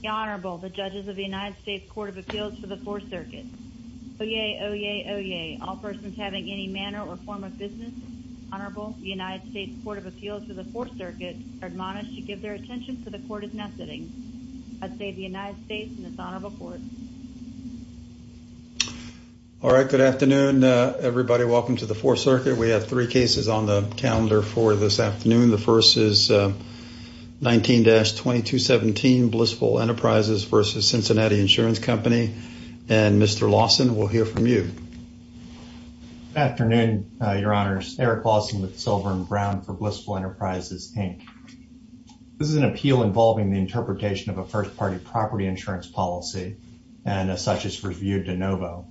The Honorable, the judges of the United States Court of Appeals for the Fourth Circuit. Oyez, oyez, oyez, all persons having any manner or form of business. Honorable, the United States Court of Appeals for the Fourth Circuit are admonished to give their attention to the court of messaging. I say the United States and its Honorable Court. All right, good afternoon, everybody. Welcome to the Fourth Circuit. We have three cases on the 2217 Blissful Enterprises v. Cincinnati Insurance Company. And Mr. Lawson, we'll hear from you. Good afternoon, Your Honors. Eric Lawson with Silver and Brown for Blissful Enterprises, Inc. This is an appeal involving the interpretation of a first-party property insurance policy and as such is reviewed de novo.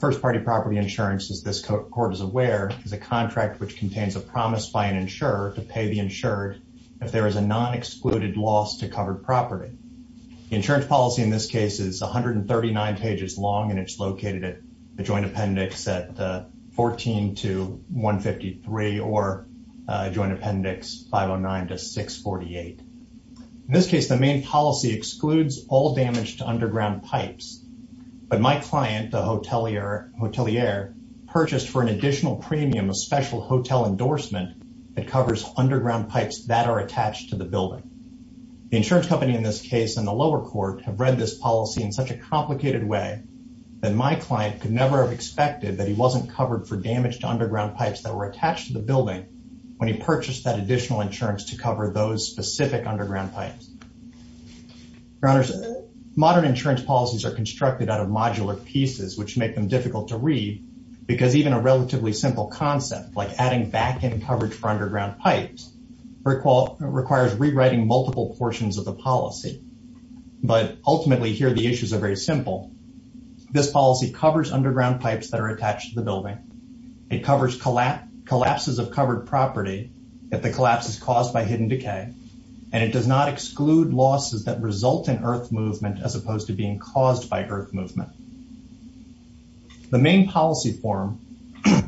First-party property insurance, as this court is aware, is a contract which contains a promise by an insurer to pay the insured if there is a non-excluded loss to covered property. The insurance policy in this case is 139 pages long and it's located at the Joint Appendix 14-153 or Joint Appendix 509-648. In this case, the main policy excludes all damage to underground pipes. But my client, the hotelier, purchased for an additional premium a special hotel endorsement that covers underground pipes that are attached to the building. The insurance company in this case and the lower court have read this policy in such a complicated way that my client could never have expected that he wasn't covered for damage to underground pipes that were attached to the building when he purchased that additional insurance to cover those specific underground pipes. Your Honors, modern insurance policies are constructed out of modular pieces which make them difficult to read because even a relatively simple concept like adding back-end coverage for requires rewriting multiple portions of the policy. But ultimately here the issues are very simple. This policy covers underground pipes that are attached to the building. It covers collapses of covered property if the collapse is caused by hidden decay and it does not exclude losses that result in earth movement as opposed to being caused by earth movement. The main policy form,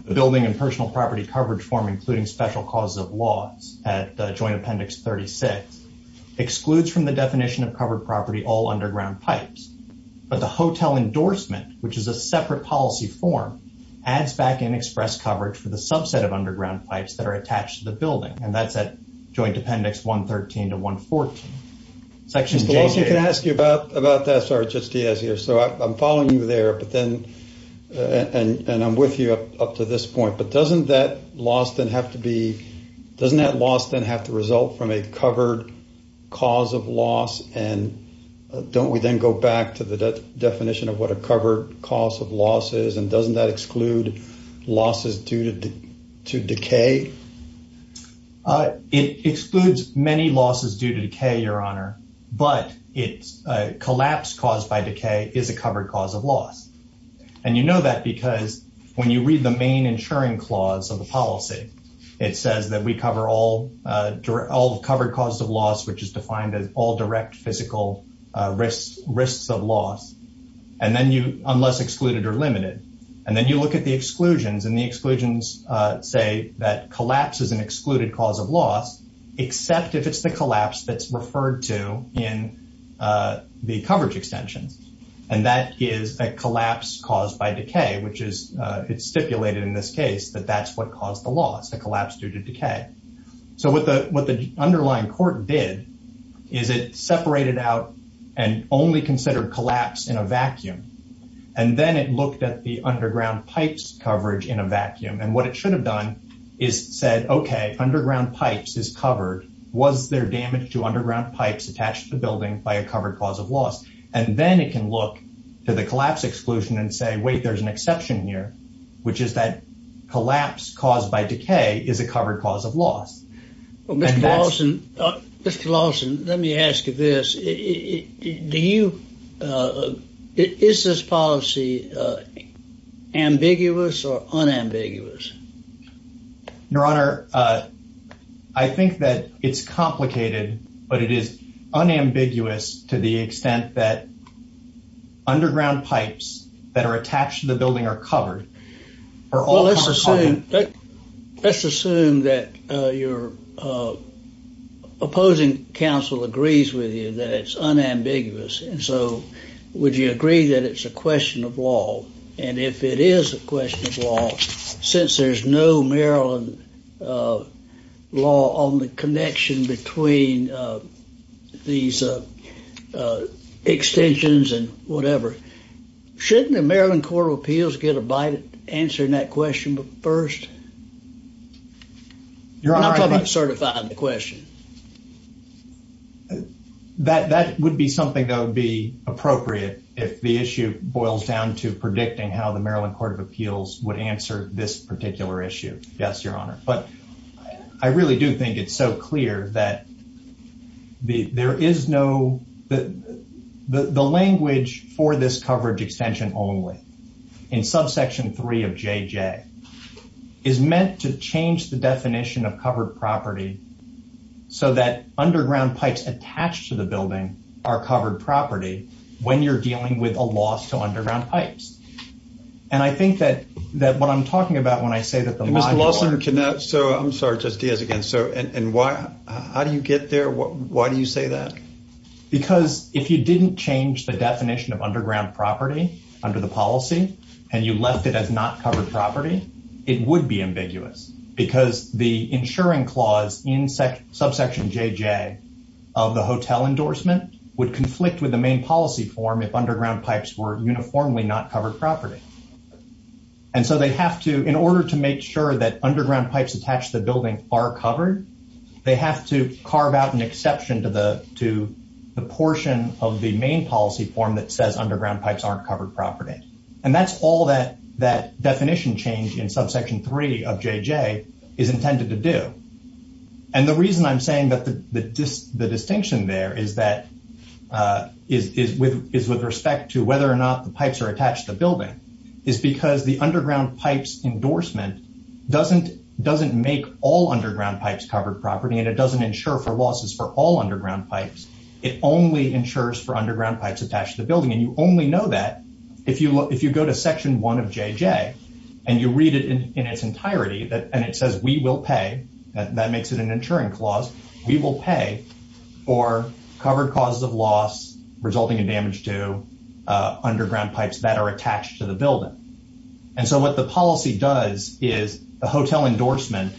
the building and personal property coverage form including special causes of loss at joint appendix 36 excludes from the definition of covered property all underground pipes. But the hotel endorsement, which is a separate policy form, adds back-end express coverage for the subset of underground pipes that are attached to the building and that's at joint appendix 113 to 114. Section J. If I could ask you about that. Sorry, it's just Diaz here. So I'm following you there but then and I'm with you up to this point, but doesn't that loss then have to be, doesn't that loss then have to result from a covered cause of loss and don't we then go back to the definition of what a covered cause of loss is and doesn't that exclude losses due to decay? It excludes many losses due to decay, your honor, but it's a collapse caused by decay is a covered cause of loss. You know that because when you read the main insuring clause of the policy, it says that we cover all covered causes of loss, which is defined as all direct physical risks of loss and then you, unless excluded or limited, and then you look at the exclusions and the exclusions say that collapse is an excluded cause of loss except if it's the collapse that's referred to in the which is it's stipulated in this case that that's what caused the loss, the collapse due to decay. So what the underlying court did is it separated out and only considered collapse in a vacuum and then it looked at the underground pipes coverage in a vacuum and what it should have done is said, okay, underground pipes is covered. Was there damage to underground pipes attached to the building by a covered cause of loss? And then it can look to the collapse exclusion and say, wait, there's an exception here, which is that collapse caused by decay is a covered cause of loss. Well, Mr. Lawson, Mr. Lawson, let me ask you this. Do you, is this policy ambiguous or unambiguous? Your honor, I think that it's complicated, but it is unambiguous to the extent that underground pipes that are attached to the building are covered. Let's assume that your opposing counsel agrees with you that it's unambiguous. And so, would you agree that it's a question of law? And if it is a question of law, since there's no Maryland law on the connection between these extensions and whatever, shouldn't the Maryland Court of Appeals get a bite at answering that question first? I'm talking about certifying the question. That would be something that would be appropriate if the issue boils down to predicting how the property is covered. Yes, your honor. But I really do think it's so clear that there is no, the language for this coverage extension only in subsection three of JJ is meant to change the definition of covered property so that underground pipes attached to the building are covered property when you're dealing with a loss to underground pipes. And I think that what I'm talking about when I say that the- Mr. Lawson, so I'm sorry, just Diaz again. So, how do you get there? Why do you say that? Because if you didn't change the definition of underground property under the policy, and you left it as not covered property, it would be ambiguous. Because the insuring clause in subsection JJ of the hotel endorsement would conflict with the main policy form if underground pipes were uniformly not covered property. And so they have to, in order to make sure that underground pipes attached to the building are covered, they have to carve out an exception to the portion of the main policy form that says underground pipes aren't covered property. And that's all that definition change in subsection three of JJ is intended to do. And the reason I'm saying that the distinction there is with respect to whether or not the pipes are attached to the building is because the underground pipes endorsement doesn't make all underground pipes covered property and it doesn't insure for losses for all underground pipes. It only insures for underground pipes attached to the building. And you only know that if you go to section one of JJ and you read it in its entirety and it says we will pay, that makes it an insuring clause, we will pay for covered causes of loss resulting in damage to underground pipes that are attached to the building. And so what the policy does is the hotel endorsement,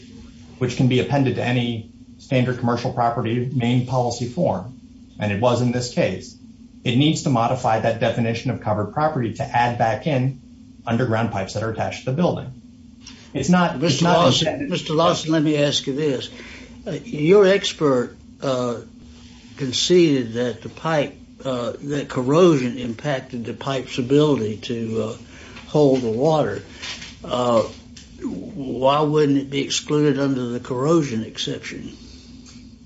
which can be appended to any standard commercial property main policy form, and it was in this case, it needs to modify that definition of covered property to add back in underground pipes that are attached to the building. It's not... Mr. Lawson, let me ask you this. Your expert conceded that the pipe, that corrosion impacted the pipes ability to hold the water. Why wouldn't it be excluded under the corrosion exception?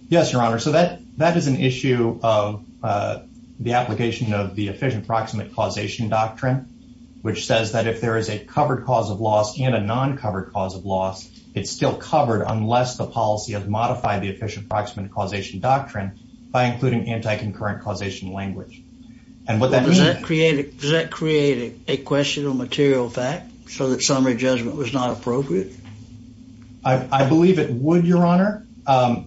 Yes, your honor. So that is an issue of the application of the efficient proximate causation doctrine, which says that if there is a covered cause of loss and a non-covered cause of loss, it's still covered unless the policy has modified the efficient proximate causation doctrine by including anti-concurrent causation language. Does that create a question of material fact so that summary judgment was not appropriate? I believe it would, your honor,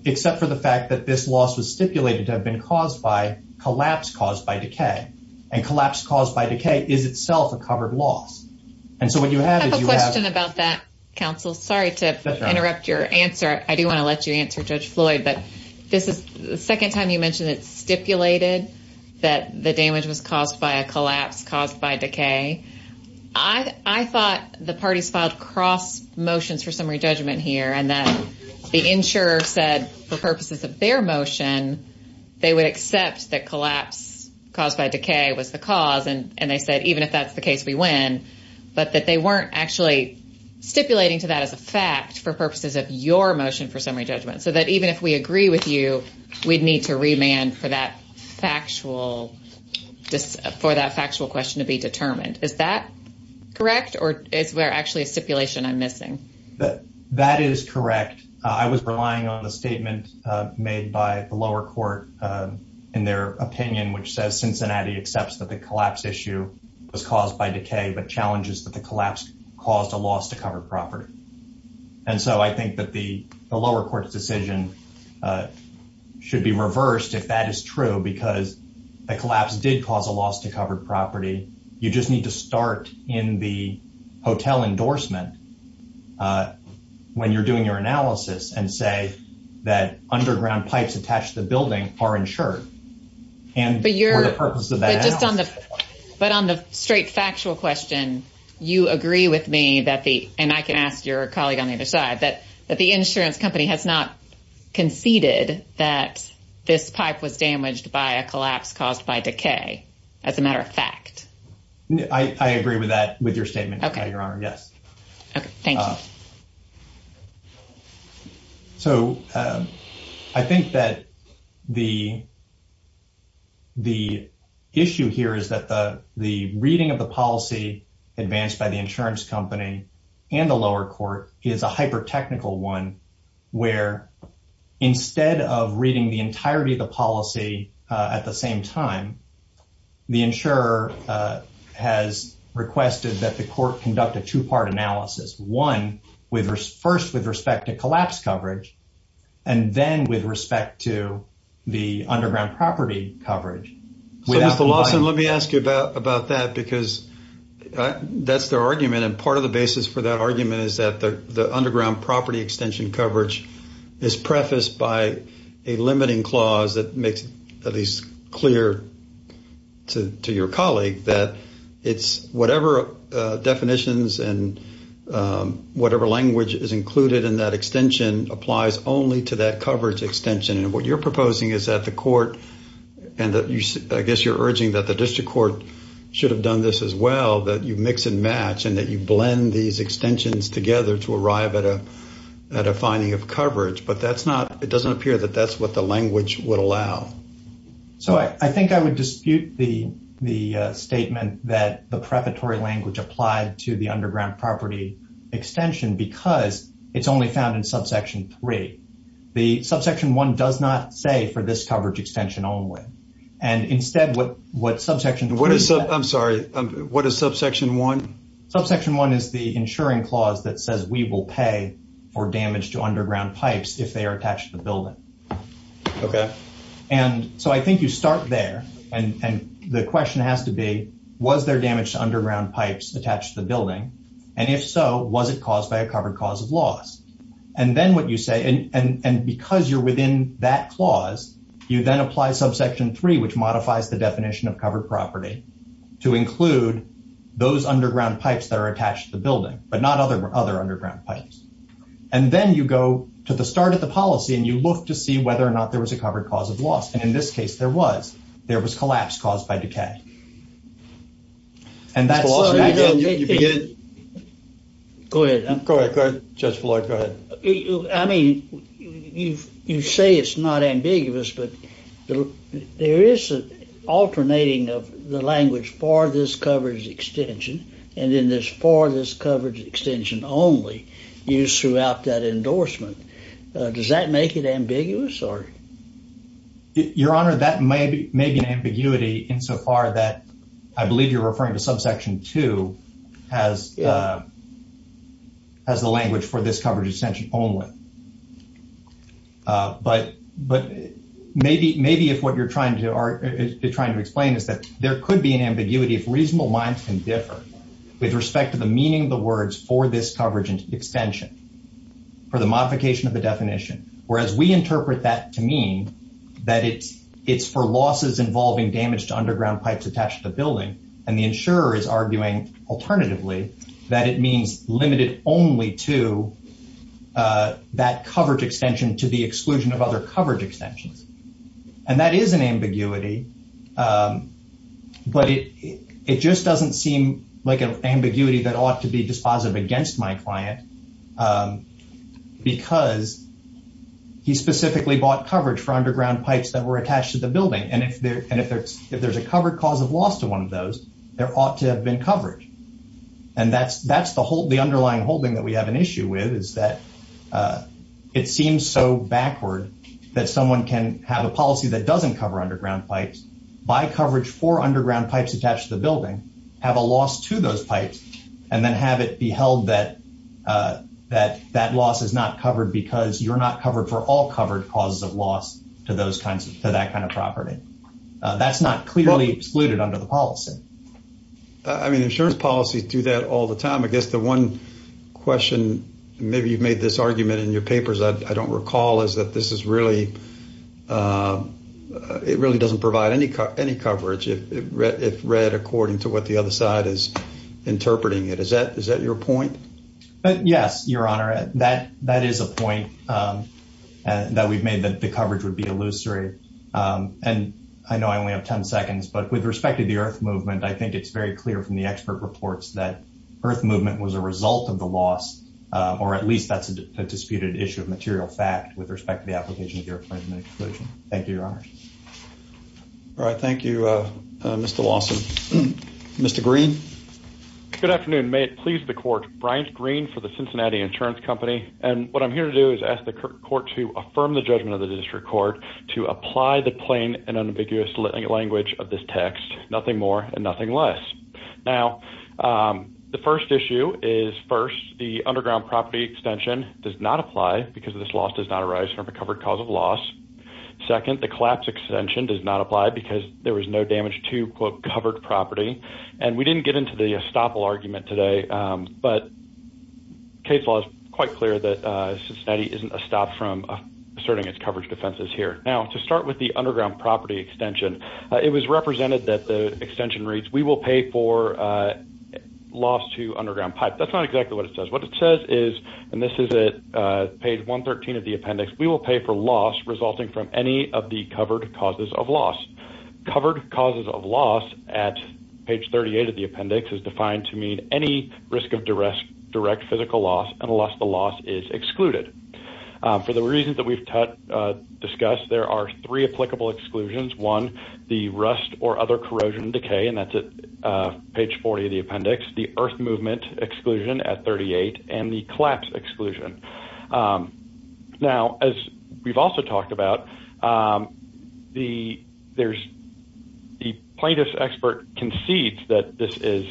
except for the fact that this loss was stipulated to have been caused by collapse caused by decay. And collapse caused by decay is itself a covered loss. And so what you have is... I have a question about that, counsel. Sorry to interrupt your answer. I do want to let you answer Judge Floyd, but this is the second time you mentioned it's stipulated that the damage was caused by a collapse caused by decay. I thought the parties filed cross motions for summary judgment here, and that the insurer said for purposes of their motion, they would accept that collapse caused by decay was the cause. And they said, even if that's the case, we win. But that they weren't actually stipulating to that as a fact for purposes of your motion for summary judgment. So that even if we agree with you, we'd need to remand for that factual question to be determined. Is that correct? Or is there actually a stipulation I'm missing? That is correct. I was relying on the statement made by the lower court in their opinion, which says Cincinnati accepts that the collapse issue was caused by decay, but challenges that the collapse caused a loss to covered property. And so I think that the lower court's decision should be reversed if that is true, because the collapse did cause a loss to covered property. You just need to start in the hotel endorsement when you're doing your analysis and say that the insurance company has not conceded that this pipe was damaged by a collapse caused by decay, as a matter of fact. I agree with that, with your statement, Your Honor, yes. Okay, thank you. So I think that the issue here is that the reading of the policy advanced by the insurance company and the lower court is a hyper-technical one, where instead of reading the entirety of the policy at the same time, the insurer has requested that the court conduct a two-part analysis. One, first with respect to collapse coverage, and then with respect to the underground property coverage. So Mr. Lawson, let me ask you about that, because that's their argument, and part of the basis for that argument is that the underground property extension coverage is prefaced by a limiting clear to your colleague that it's whatever definitions and whatever language is included in that extension applies only to that coverage extension. And what you're proposing is that the court, and I guess you're urging that the district court should have done this as well, that you mix and match and that you blend these extensions together to arrive at a finding of coverage, but it doesn't appear that that's what the language would allow. So I think I would dispute the statement that the prefatory language applied to the underground property extension because it's only found in subsection 3. The subsection 1 does not say for this coverage extension only, and instead what subsection 3... I'm sorry, what is subsection 1? Subsection 1 is the insuring clause that says we will pay for damage to underground pipes if they are attached to the building. Okay. And so I think you start there, and the question has to be, was there damage to underground pipes attached to the building? And if so, was it caused by a covered cause of loss? And then what you say, and because you're within that clause, you then apply subsection 3, which modifies the definition of covered property to include those underground pipes that are attached to the building, but not other underground pipes. And then you go to the start of the policy, and you look to see whether or not there was a covered cause of loss. And in this case, there was. There was collapse caused by decay. And that's... Go ahead. Go ahead, Judge Floyd, go ahead. I mean, you say it's not ambiguous, but there is an alternating of the language for this coverage extension only used throughout that endorsement. Does that make it ambiguous, or...? Your Honor, that may be an ambiguity insofar that I believe you're referring to subsection 2 as the language for this coverage extension only. But maybe if what you're trying to explain is that there could be an ambiguity if reasonable minds can differ with respect to the meaning of the words for this coverage extension, for the modification of the definition, whereas we interpret that to mean that it's for losses involving damage to underground pipes attached to the building, and the insurer is arguing, alternatively, that it means limited only to that coverage extension to the exclusion of like an ambiguity that ought to be dispositive against my client, because he specifically bought coverage for underground pipes that were attached to the building. And if there's a covered cause of loss to one of those, there ought to have been coverage. And that's the underlying holding that we have an issue with, is that it seems so backward that someone can have a policy that doesn't cover underground pipes, buy coverage for underground pipes attached to the building, have a loss to those pipes, and then have it be held that loss is not covered because you're not covered for all covered causes of loss to that kind of property. That's not clearly excluded under the policy. I mean, insurance policies do that all the time. I guess the one question, maybe you've made this argument in your papers, I don't recall, is that it really doesn't provide any coverage if read according to what the other side is interpreting it. Is that your point? Yes, Your Honor. That is a point that we've made, that the coverage would be illusory. And I know I only have 10 seconds, but with respect to the earth movement, I think it's very clear from the expert reports that earth movement was a result of the loss, or at least that's a disputed issue of material fact with respect to the application of the earth movement exclusion. Thank you, Your Honor. All right. Thank you, Mr. Lawson. Mr. Green. Good afternoon. May it please the court, Brian Green for the Cincinnati Insurance Company. And what I'm here to do is ask the court to affirm the judgment of the district court to apply the plain and unambiguous language of this text, nothing more and nothing less. Now, the first issue is first, the underground property extension does not apply because of this loss does not arise from a covered cause of loss. Second, the collapse extension does not apply because there was no damage to quote covered property. And we didn't get into the estoppel argument today. But case law is quite clear that Cincinnati isn't a stop from asserting its coverage defenses here. Now, to start with the underground property extension, it was represented that the loss to underground pipe. That's not exactly what it says. What it says is, and this is at page 113 of the appendix, we will pay for loss resulting from any of the covered causes of loss. Covered causes of loss at page 38 of the appendix is defined to mean any risk of direct physical loss unless the loss is excluded. For the reasons that we've discussed, there are three applicable exclusions. One, the rust or other corrosion decay, and that's at page 40 of the appendix, the earth movement exclusion at 38 and the collapse exclusion. Now, as we've also talked about, the plaintiff's expert concedes that this is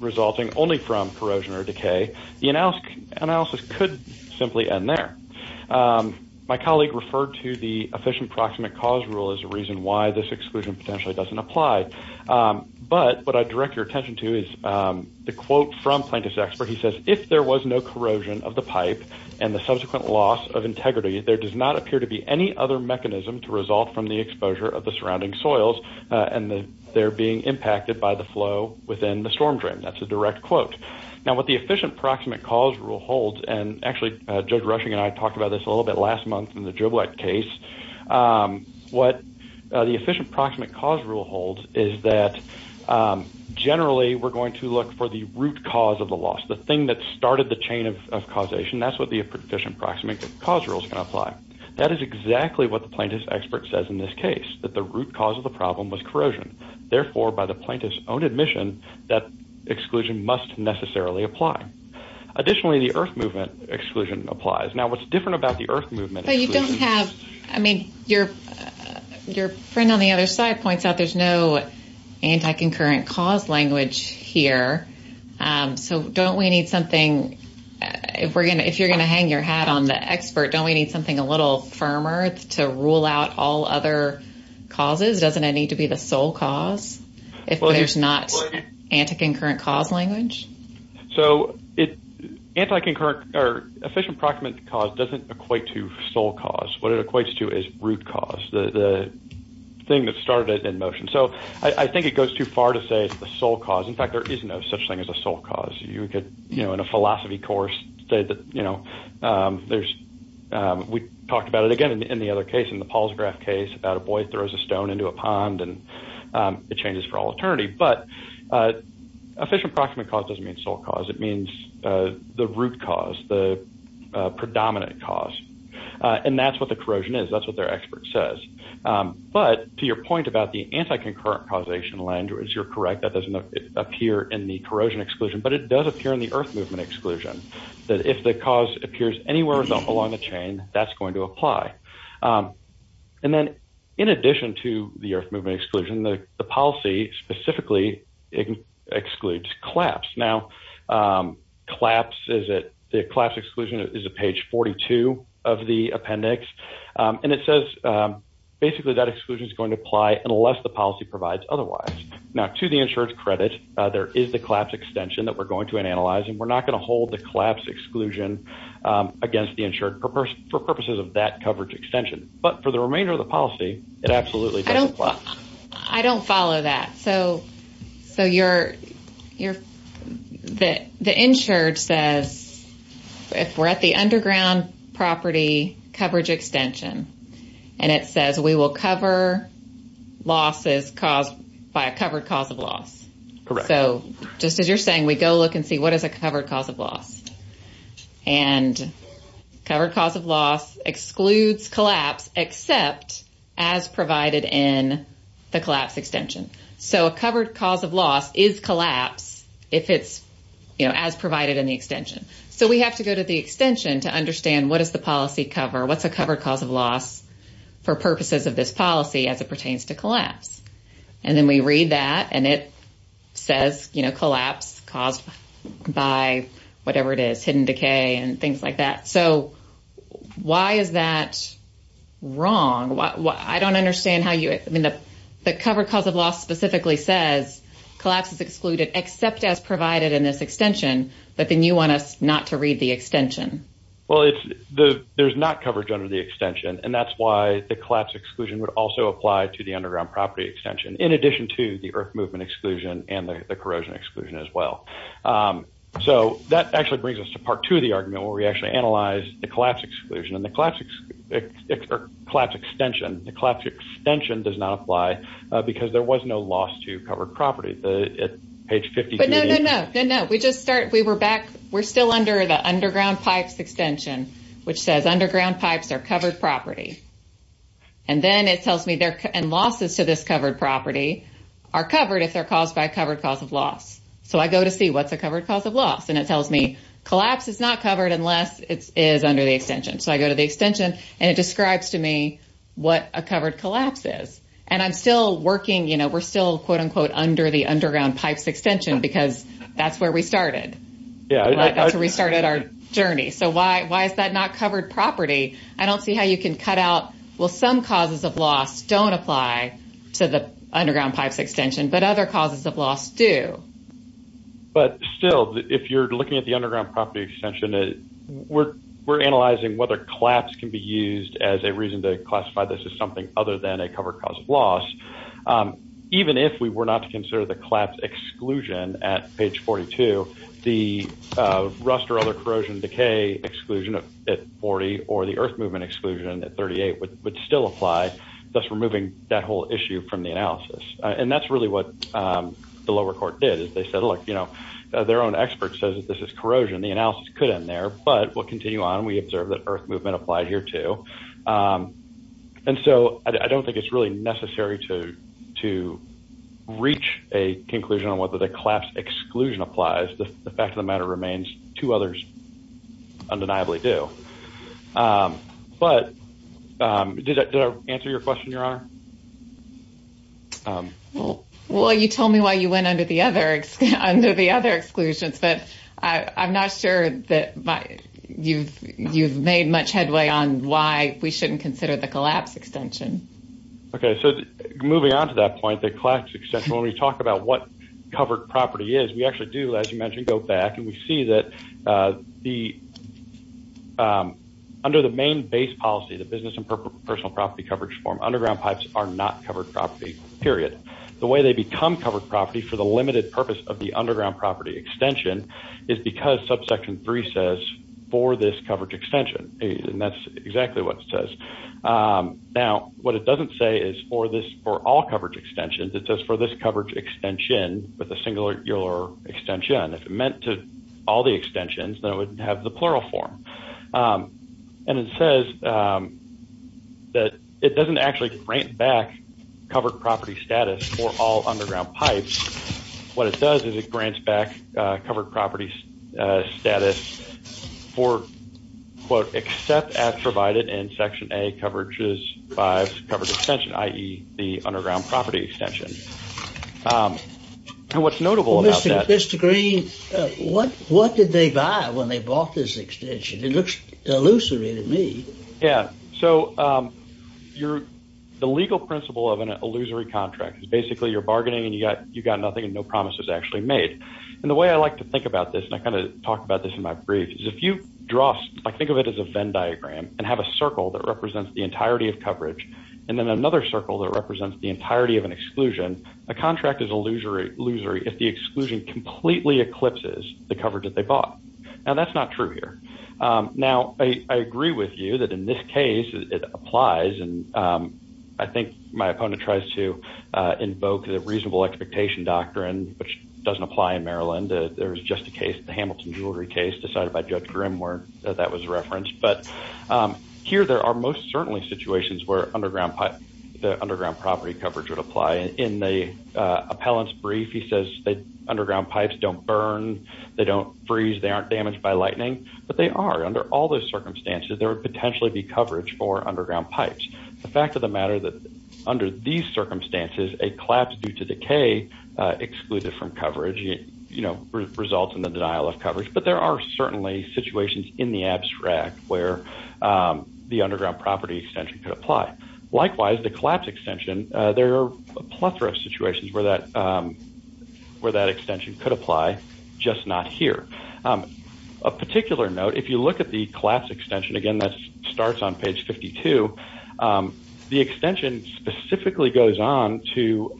resulting only from corrosion or decay. The analysis could simply end there. My colleague referred to the efficient proximate cause rule as a reason why this exclusion potentially doesn't apply. But what I direct your attention to is the quote from plaintiff's expert. He says, if there was no corrosion of the pipe and the subsequent loss of integrity, there does not appear to be any other mechanism to result from the exposure of the surrounding soils and they're being impacted by the flow within the storm drain. That's a direct quote. Now, what the efficient proximate cause rule holds, and actually, Judge Rushing and I talked about this a little bit last month in the Driblet case, what the efficient proximate cause rule holds is that generally we're going to look for the root cause of the loss, the thing that started the chain of causation. That's what the efficient proximate cause rules can apply. That is exactly what the plaintiff's expert says in this case, that the root cause of the problem was corrosion. Therefore, by the plaintiff's own admission, that exclusion must necessarily apply. Additionally, the earth movement exclusion applies. Now, what's different about the earth movement exclusion... But you don't have, I mean, your friend on the other side points out there's no anti-concurrent cause language here. So don't we need something, if you're going to hang your hat on the expert, don't we need something a little firmer to rule out all other causes? Doesn't it need to be the sole cause if there's not anti-concurrent cause language? So, efficient proximate cause doesn't equate to sole cause. What it equates to is root cause, the thing that started it in motion. So I think it goes too far to say it's the sole cause. In fact, there is no such thing as a sole cause. In a philosophy course, we talked about it again in the Paul's graph case about a boy throws a stone into a pond and it changes for all eternity. But efficient proximate cause doesn't mean sole cause. It means the root cause, the predominant cause. And that's what the corrosion is. That's what their expert says. But to your point about the anti-concurrent causation language, you're correct. That doesn't appear in the corrosion exclusion, but it does appear in the earth movement exclusion. That if the cause appears anywhere along the chain, that's going to apply. And then in addition to the earth movement exclusion, the policy specifically excludes collapse. Now, the collapse exclusion is a page 42 of the appendix. And it says basically that exclusion is going to apply unless the policy provides otherwise. Now, to the insurer's credit, there is the collapse extension that we're going to analyze. And we're not going to hold the collapse exclusion against the insured for purposes of that coverage extension. But for the remainder of the policy, it absolutely doesn't apply. I don't follow that. So the insured says if we're at the underground property coverage extension and it says we will cover losses caused by a covered cause of loss. Correct. So just as you're saying, we go look and see what is a covered cause of loss. And covered cause of loss excludes collapse except as provided in the collapse extension. So a covered cause of loss is collapse if it's as provided in the extension. So we have to go to the extension to understand what is the policy cover, what's a covered cause of loss for purposes of this policy as it pertains to collapse. And then we read that and it says, you know, collapse caused by whatever it is, hidden decay and things like that. So why is that wrong? I don't understand how you, I mean, the covered cause of loss specifically says collapse is excluded except as provided in this extension. But then you want us not to read the extension. Well, there's not coverage under the property extension in addition to the earth movement exclusion and the corrosion exclusion as well. So that actually brings us to part two of the argument where we actually analyze the collapse exclusion and the collapse extension. The collapse extension does not apply because there was no loss to covered property. But no, no, no. We just start, we were back, we're still under the underground pipes extension, which says underground pipes are covered property. And then it tells me there and losses to this covered property are covered if they're caused by a covered cause of loss. So I go to see what's a covered cause of loss. And it tells me collapse is not covered unless it is under the extension. So I go to the extension and it describes to me what a covered collapse is. And I'm still working, you know, we're still quote unquote under the underground pipes extension because that's where we started. That's where we started our journey. So why is that not covered property? I don't see how you can cut out, well, some causes of loss don't apply to the underground pipes extension, but other causes of loss do. But still, if you're looking at the underground property extension, we're analyzing whether collapse can be used as a reason to classify this as something other than a covered cause of loss. Even if we were not to consider the collapse exclusion at page 42, the rust or other corrosion decay exclusion at 40 or the earth movement exclusion at 38 would still apply, thus removing that whole issue from the analysis. And that's really what the lower court did is they said, look, you know, their own expert says that this is corrosion. The analysis could end there, but we'll continue on. We observe that earth movement applied here too. And so I don't think it's really necessary to reach a conclusion on whether the collapse exclusion applies. The fact of the matter remains two others undeniably do. But did that answer your question, Your Honor? Well, you told me why you went under the other exclusions, but I'm not sure that you've made much headway on why we shouldn't consider the collapse extension. Okay. So moving on to that point, the collapse extension, when we talk about what covered property is, we actually do, as you mentioned, go back and we see that under the main base policy, the business and personal property coverage form, underground pipes are not covered property, period. The way they become covered property for the limited purpose of the underground property extension is because subsection 3 says for this coverage extension. And that's exactly what it says. Now, what it doesn't say is for all coverage extensions, it says for this coverage extension with a singular extension, if it meant to all the extensions, then it would have the plural form. And it says that it doesn't actually grant back covered property status for all underground pipes. What it does is it grants back covered property status for quote, except as provided in section A coverages by coverage extension, the underground property extension. And what's notable about that. Mr. Green, what did they buy when they bought this extension? It looks illusory to me. Yeah. So the legal principle of an illusory contract is basically you're bargaining and you got nothing and no promises actually made. And the way I like to think about this, and I kind of talked about this in my brief is if you draw, like think of it as a Venn diagram and have a circle that represents the entirety of coverage. And then another circle that represents the entirety of an exclusion, a contract is illusory if the exclusion completely eclipses the coverage that they bought. Now that's not true here. Now, I agree with you that in this case it applies. And I think my opponent tries to invoke the reasonable expectation doctrine, which doesn't apply in Maryland. There was just a case, the Hamilton jewelry case decided by Judge Grimm where that was referenced. But here there are most certainly situations where the underground property coverage would apply. In the appellant's brief, he says that underground pipes don't burn, they don't freeze, they aren't damaged by lightning, but they are under all those circumstances. There would potentially be coverage for underground pipes. The fact of the matter that under these circumstances, a collapse due to decay excluded from coverage results in the denial of coverage. But there are certainly situations in the abstract where the underground property extension could apply. Likewise, the collapse extension, there are a plethora of situations where that extension could apply, just not here. A particular note, if you look at the collapse extension, again, that starts on page 52, the extension specifically goes on to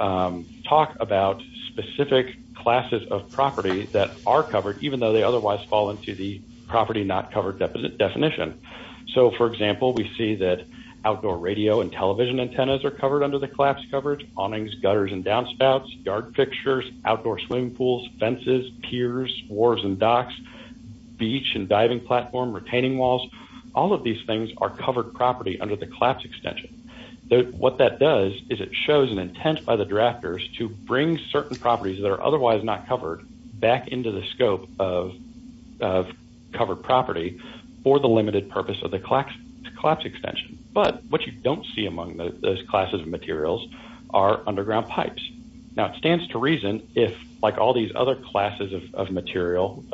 talk about specific classes of property that are covered, even though they otherwise fall into the property not covered definition. So for example, we see that outdoor radio and television antennas are covered under the collapse coverage, awnings, gutters and downspouts, yard fixtures, outdoor swimming pools, fences, piers, wharves and docks, beach and diving platform, retaining walls, all of these things are covered property under the collapse extension. What that does is it shows an intent by the drafters to bring certain properties that are otherwise not covered back into the scope of covered property for the limited purpose of the collapse extension. But what you don't see among those classes of materials are underground pipes. Now, it stands to reason if, like all these other classes of material,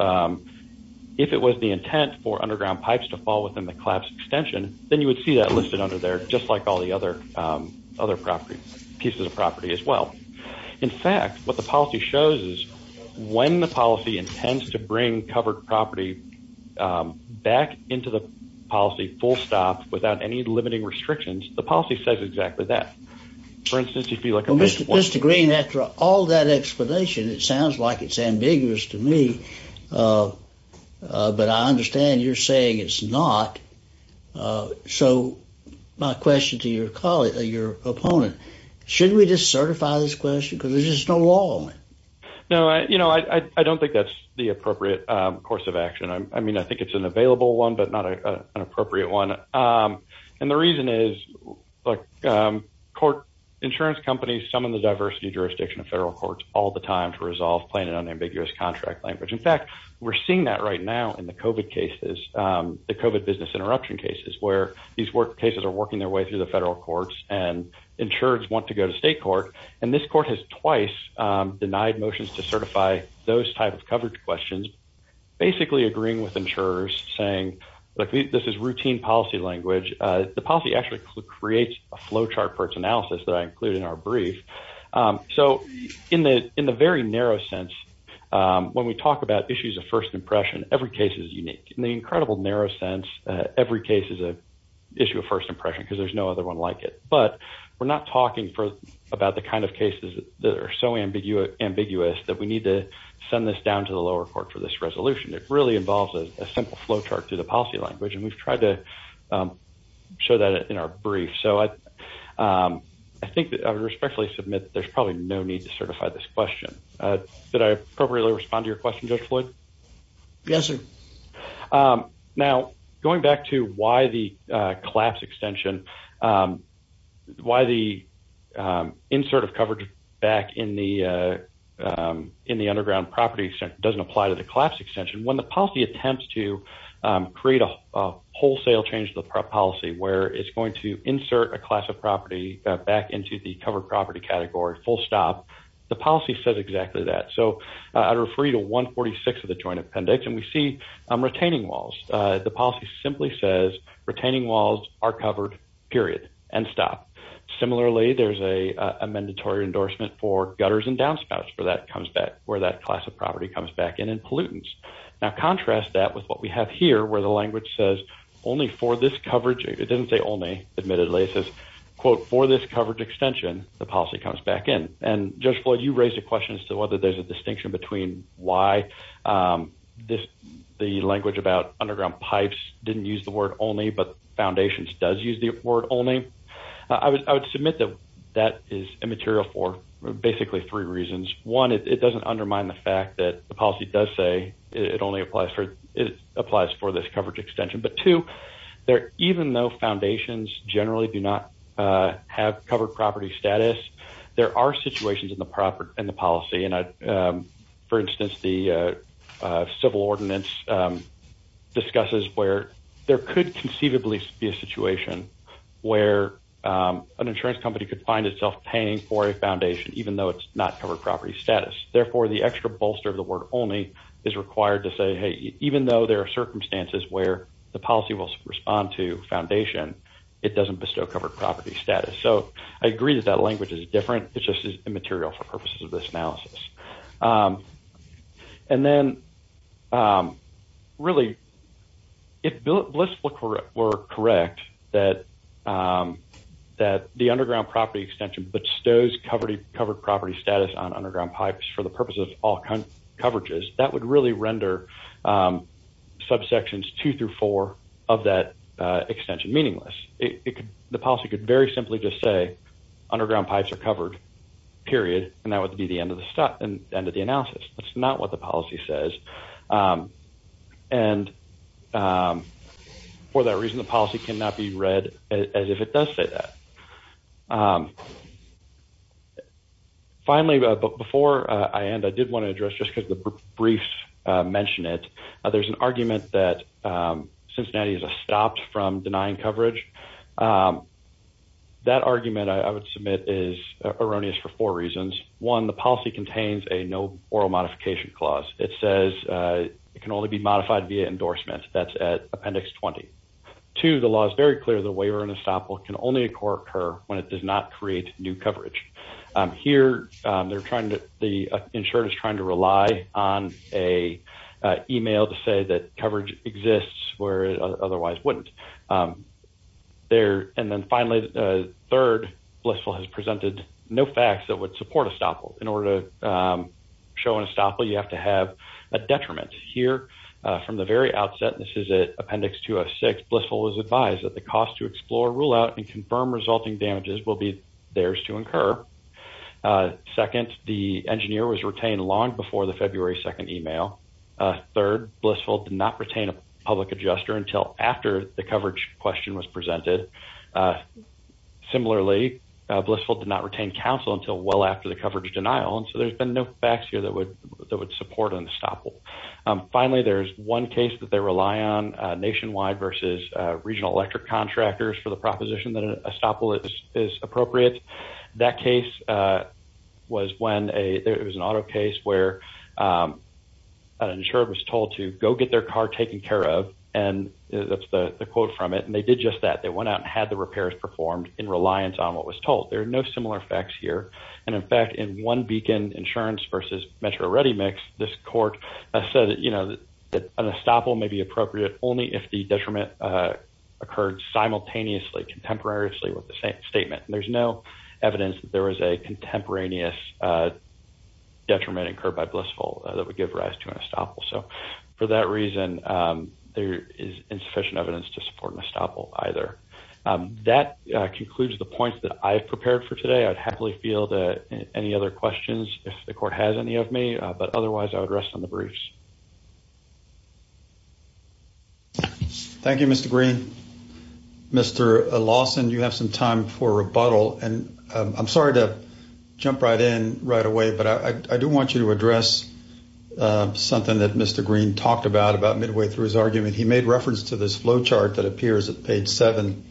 if it was the intent for underground pipes to fall within the collapse extension, then you would see that listed under there, just like all the other pieces of property as well. In fact, what the policy shows is when the policy intends to bring covered property back into the policy full stop without any limiting restrictions, the policy says exactly that. For instance, you feel like Mr. Green, after all that explanation, it sounds like it's ambiguous to me. But I understand you're saying it's not. So my question to your opponent, should we just certify this question? Because there's just no law on it. No, I don't think that's the appropriate course of action. I mean, I think it's an available one, but not an appropriate one. And the reason is court insurance companies summon the diversity jurisdiction of federal courts all the time to resolve plain and unambiguous contract language. In fact, we're seeing that right now in the COVID cases, the COVID business interruption cases, where these work cases are working their way through the federal courts and insurers want to go to state court. And this court has twice denied motions to certify those types of coverage questions, basically agreeing with insurers saying this is routine policy language. The policy actually creates a flow chart for its analysis that I include in our brief. So in the very narrow sense, when we talk about issues of first impression, every case is unique. In the issue of first impression, because there's no other one like it. But we're not talking for about the kind of cases that are so ambiguous that we need to send this down to the lower court for this resolution. It really involves a simple flow chart to the policy language. And we've tried to show that in our brief. So I think that I respectfully submit that there's probably no need to certify this question. Did I appropriately respond to your question, Judge Floyd? Yes, sir. Now, going back to why the collapse extension, why the insert of coverage back in the underground property doesn't apply to the collapse extension, when the policy attempts to create a wholesale change to the policy where it's going to insert a class of property back into the covered property category, full stop, the policy says exactly that. So I'd refer you to Article 146 of the Joint Appendix, and we see retaining walls. The policy simply says retaining walls are covered, period, and stop. Similarly, there's a mandatory endorsement for gutters and downspouts where that class of property comes back in and pollutants. Now, contrast that with what we have here where the language says only for this coverage, it doesn't say only, admittedly, it says, quote, for this coverage extension, the policy comes back in. And Judge Floyd, you raised a question as to whether there's a distinction between why the language about underground pipes didn't use the word only, but foundations does use the word only. I would submit that that is immaterial for basically three reasons. One, it doesn't undermine the fact that the policy does say it only applies for this coverage extension. But two, even though foundations generally do not have covered property status, there are situations in the policy. And for instance, the civil ordinance discusses where there could conceivably be a situation where an insurance company could find itself paying for a foundation, even though it's not covered property status. Therefore, the extra bolster of the word only is required to say, hey, even though there are circumstances where the policy will respond to foundation, it doesn't bestow covered property status. So, I agree that that language is different. It's just immaterial for purposes of this analysis. And then, really, if Bliss were correct that the underground property extension bestows covered property status on underground pipes for the purpose of all coverages, that would really render subsections two through four of that extension meaningless. The policy could very simply just say underground pipes are covered, period, and that would be the end of the analysis. That's not what the policy says. And for that reason, the policy cannot be read as if it does say that. Finally, before I end, I did want to address, just because the briefs mention it, there's an argument that Cincinnati is stopped from denying coverage. That argument, I would submit, is erroneous for four reasons. One, the policy contains a no oral modification clause. It says it can only be modified via endorsement. That's at appendix 20. Two, the law is very clear that waiver and estoppel can only occur when it does not create new coverage. Here, the insurer is trying to rely on an email to say that coverage exists where it otherwise wouldn't. And then, finally, third, Blissville has presented no facts that would support estoppel. In order to show an estoppel, you have to have a detriment. Here, from the very outset, this is appendix 206, Blissville was advised that the cost to explore, rule out, and confirm resulting damages will be theirs to incur. Second, the engineer was retained long before the February 2nd email. Third, Blissville did not retain a public adjuster until after the coverage question was presented. Similarly, Blissville did not retain counsel until well after the coverage denial, and so there's been no facts here that would support an estoppel. Finally, there's one case that they rely on nationwide versus regional electric contractors for the proposition that an estoppel is appropriate. That case was when there was an auto case where an insurer was told to go get their car taken care of, and that's the quote from it, and they did just that. They went out and had the repairs performed in reliance on what was told. There are no similar facts here, and, in fact, in one beacon insurance versus Metro Mix, this court said that an estoppel may be appropriate only if the detriment occurred simultaneously, contemporaneously with the same statement. There's no evidence that there was a contemporaneous detriment incurred by Blissville that would give rise to an estoppel, so for that reason, there is insufficient evidence to support an estoppel either. That concludes the points that I have prepared for today. I'd happily field any other questions if the court has any of me, but otherwise, I would rest on the briefs. Thank you, Mr. Green. Mr. Lawson, you have some time for a rebuttal, and I'm sorry to jump right in right away, but I do want you to address something that Mr. Green talked about about midway through his argument. He made reference to this flow chart that appears at page 7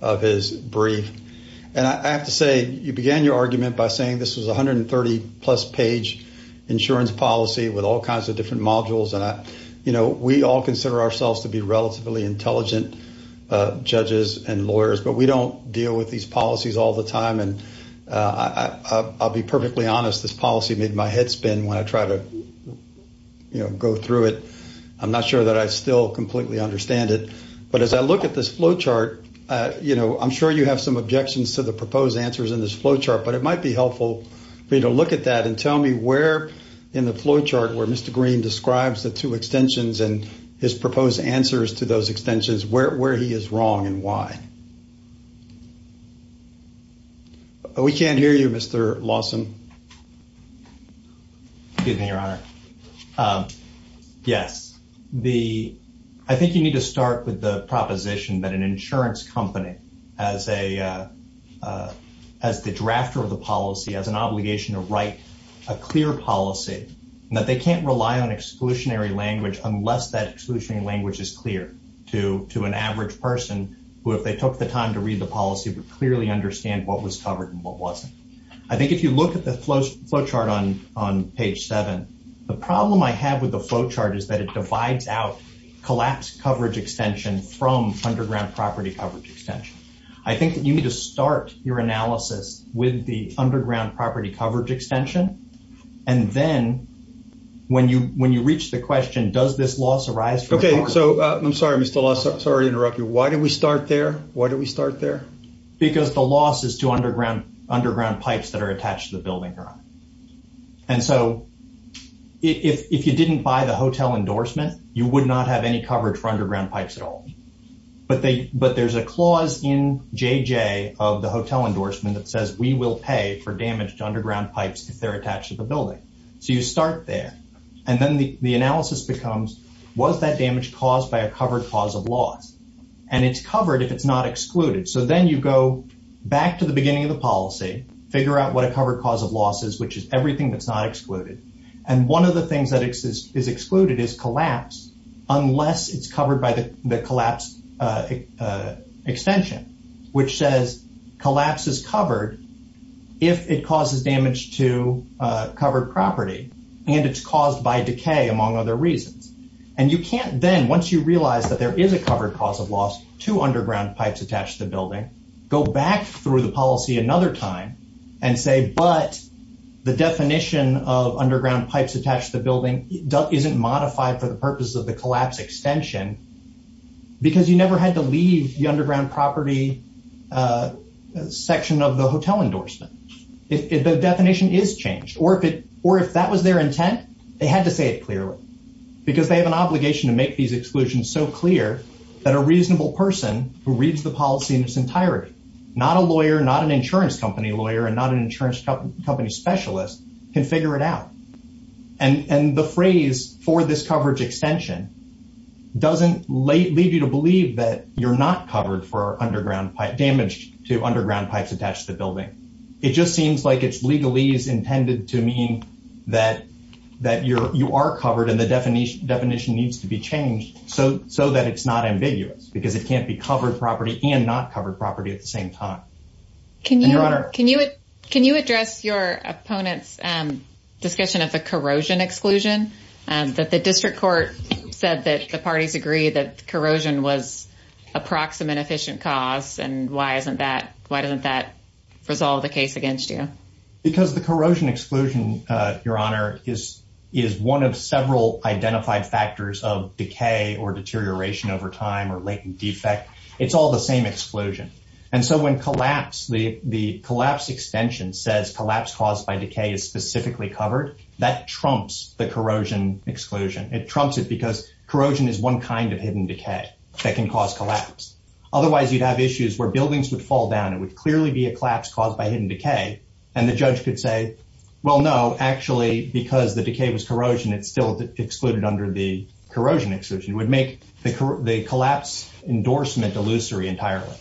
of his brief, and I have to say, you began your argument by saying this was a 130-plus page insurance policy with all kinds of different modules, and we all consider ourselves to be relatively intelligent judges and lawyers, but we don't deal with these policies all the time, and I'll be perfectly honest. This policy made my head spin when I tried to go through it. I'm not sure that I still completely understand it, but as I look at this flow chart, I'm sure you have some objections to the proposed answers in this flow chart, but it might be helpful for you to look at that and tell me where in the flow chart where Mr. Green describes the two extensions and his proposed answers to those extensions where he is wrong and why. We can't hear you, Mr. Lawson. Excuse me, Your Honor. Yes. I think you need to start with the proposition that an insurance company, as the drafter of the policy, has an obligation to write a clear policy, and that they can't rely on exclusionary language unless that exclusionary language is clear to an average person who, if they took the time to read the policy, would clearly understand what was covered and what wasn't. I think if you look at the flow chart on from underground property coverage extension, I think that you need to start your analysis with the underground property coverage extension, and then when you reach the question, does this loss arise from... Okay. So I'm sorry, Mr. Lawson. Sorry to interrupt you. Why did we start there? Why did we start there? Because the loss is to underground pipes that are attached to the building, Your Honor. And so if you didn't buy the hotel endorsement, you would not have any coverage for underground pipes at all. But there's a clause in JJ of the hotel endorsement that says, we will pay for damage to underground pipes if they're attached to the building. So you start there. And then the analysis becomes, was that damage caused by a covered cause of loss? And it's covered if it's not excluded. So then you go back to the beginning of the policy, figure out what a covered cause of loss is, which is everything that's not excluded. And one of the things that is excluded is collapse, unless it's covered by the collapse extension, which says collapse is covered if it causes damage to covered property, and it's caused by decay, among other reasons. And you can't then, once you realize that there is a covered cause of loss to underground pipes attached to the building, go back through the policy another time and say, but the definition of underground pipes attached to the building isn't modified for the purpose of the collapse extension, because you never had to leave the underground property section of the hotel endorsement. If the definition is changed, or if that was their intent, they had to say it clearly, because they have an obligation to make these exclusions so clear that a reasonable person who reads the policy in its entirety, not a lawyer, not an insurance company lawyer, not an insurance company specialist, can figure it out. And the phrase for this coverage extension doesn't lead you to believe that you're not covered for damage to underground pipes attached to the building. It just seems like it's legally is intended to mean that you are covered and the definition needs to be changed so that it's not ambiguous, because it can't be covered property and not covered property at the same time. Can you address your opponent's discussion of a corrosion exclusion? That the district court said that the parties agree that corrosion was a proximate efficient cause, and why doesn't that resolve the case against you? Because the corrosion exclusion, Your Honor, is one of several identified factors of decay or deterioration over time or latent defect. It's all the same exclusion. And so when collapse, the collapse extension says collapse caused by decay is specifically covered, that trumps the corrosion exclusion. It trumps it because corrosion is one kind of hidden decay that can cause collapse. Otherwise, you'd have issues where buildings would fall down. It would clearly be a collapse caused by hidden decay. And the judge could say, well, no, actually, because the decay was corrosion, it's still excluded under the corrosion exclusion. It would make the collapse endorsement illusory entirely.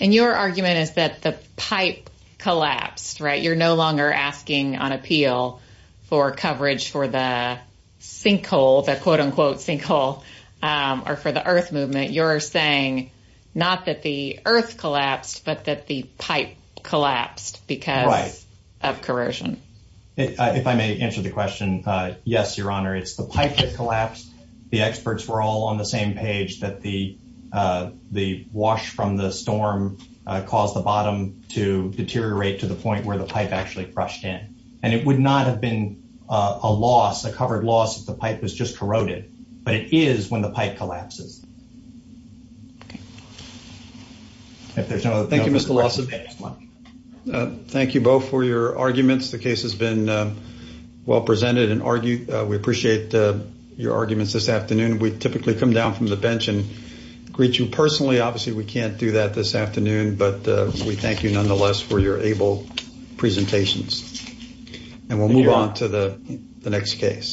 And your argument is that the pipe collapsed, right? You're no longer asking on appeal for coverage for the sinkhole, the quote unquote sinkhole, or for the earth movement. You're saying not that the earth collapsed, but that the pipe collapsed because of corrosion. If I may answer the question, yes, Your Honor, it's the pipe that collapsed. The experts were all on the same page that the wash from the storm caused the bottom to deteriorate to the point where the pipe actually crushed in. And it would not have been a loss, a covered loss, if the pipe was just corroded. But it is when the pipe collapses. If there's no other... Thank you, Mr. Lawson. Thank you both for your arguments. The case has been well presented. We appreciate your arguments this afternoon. We typically come down from the bench and greet you personally. Obviously, we can't do that this afternoon. But we thank you, nonetheless, for your able presentations. And we'll move on to the next case.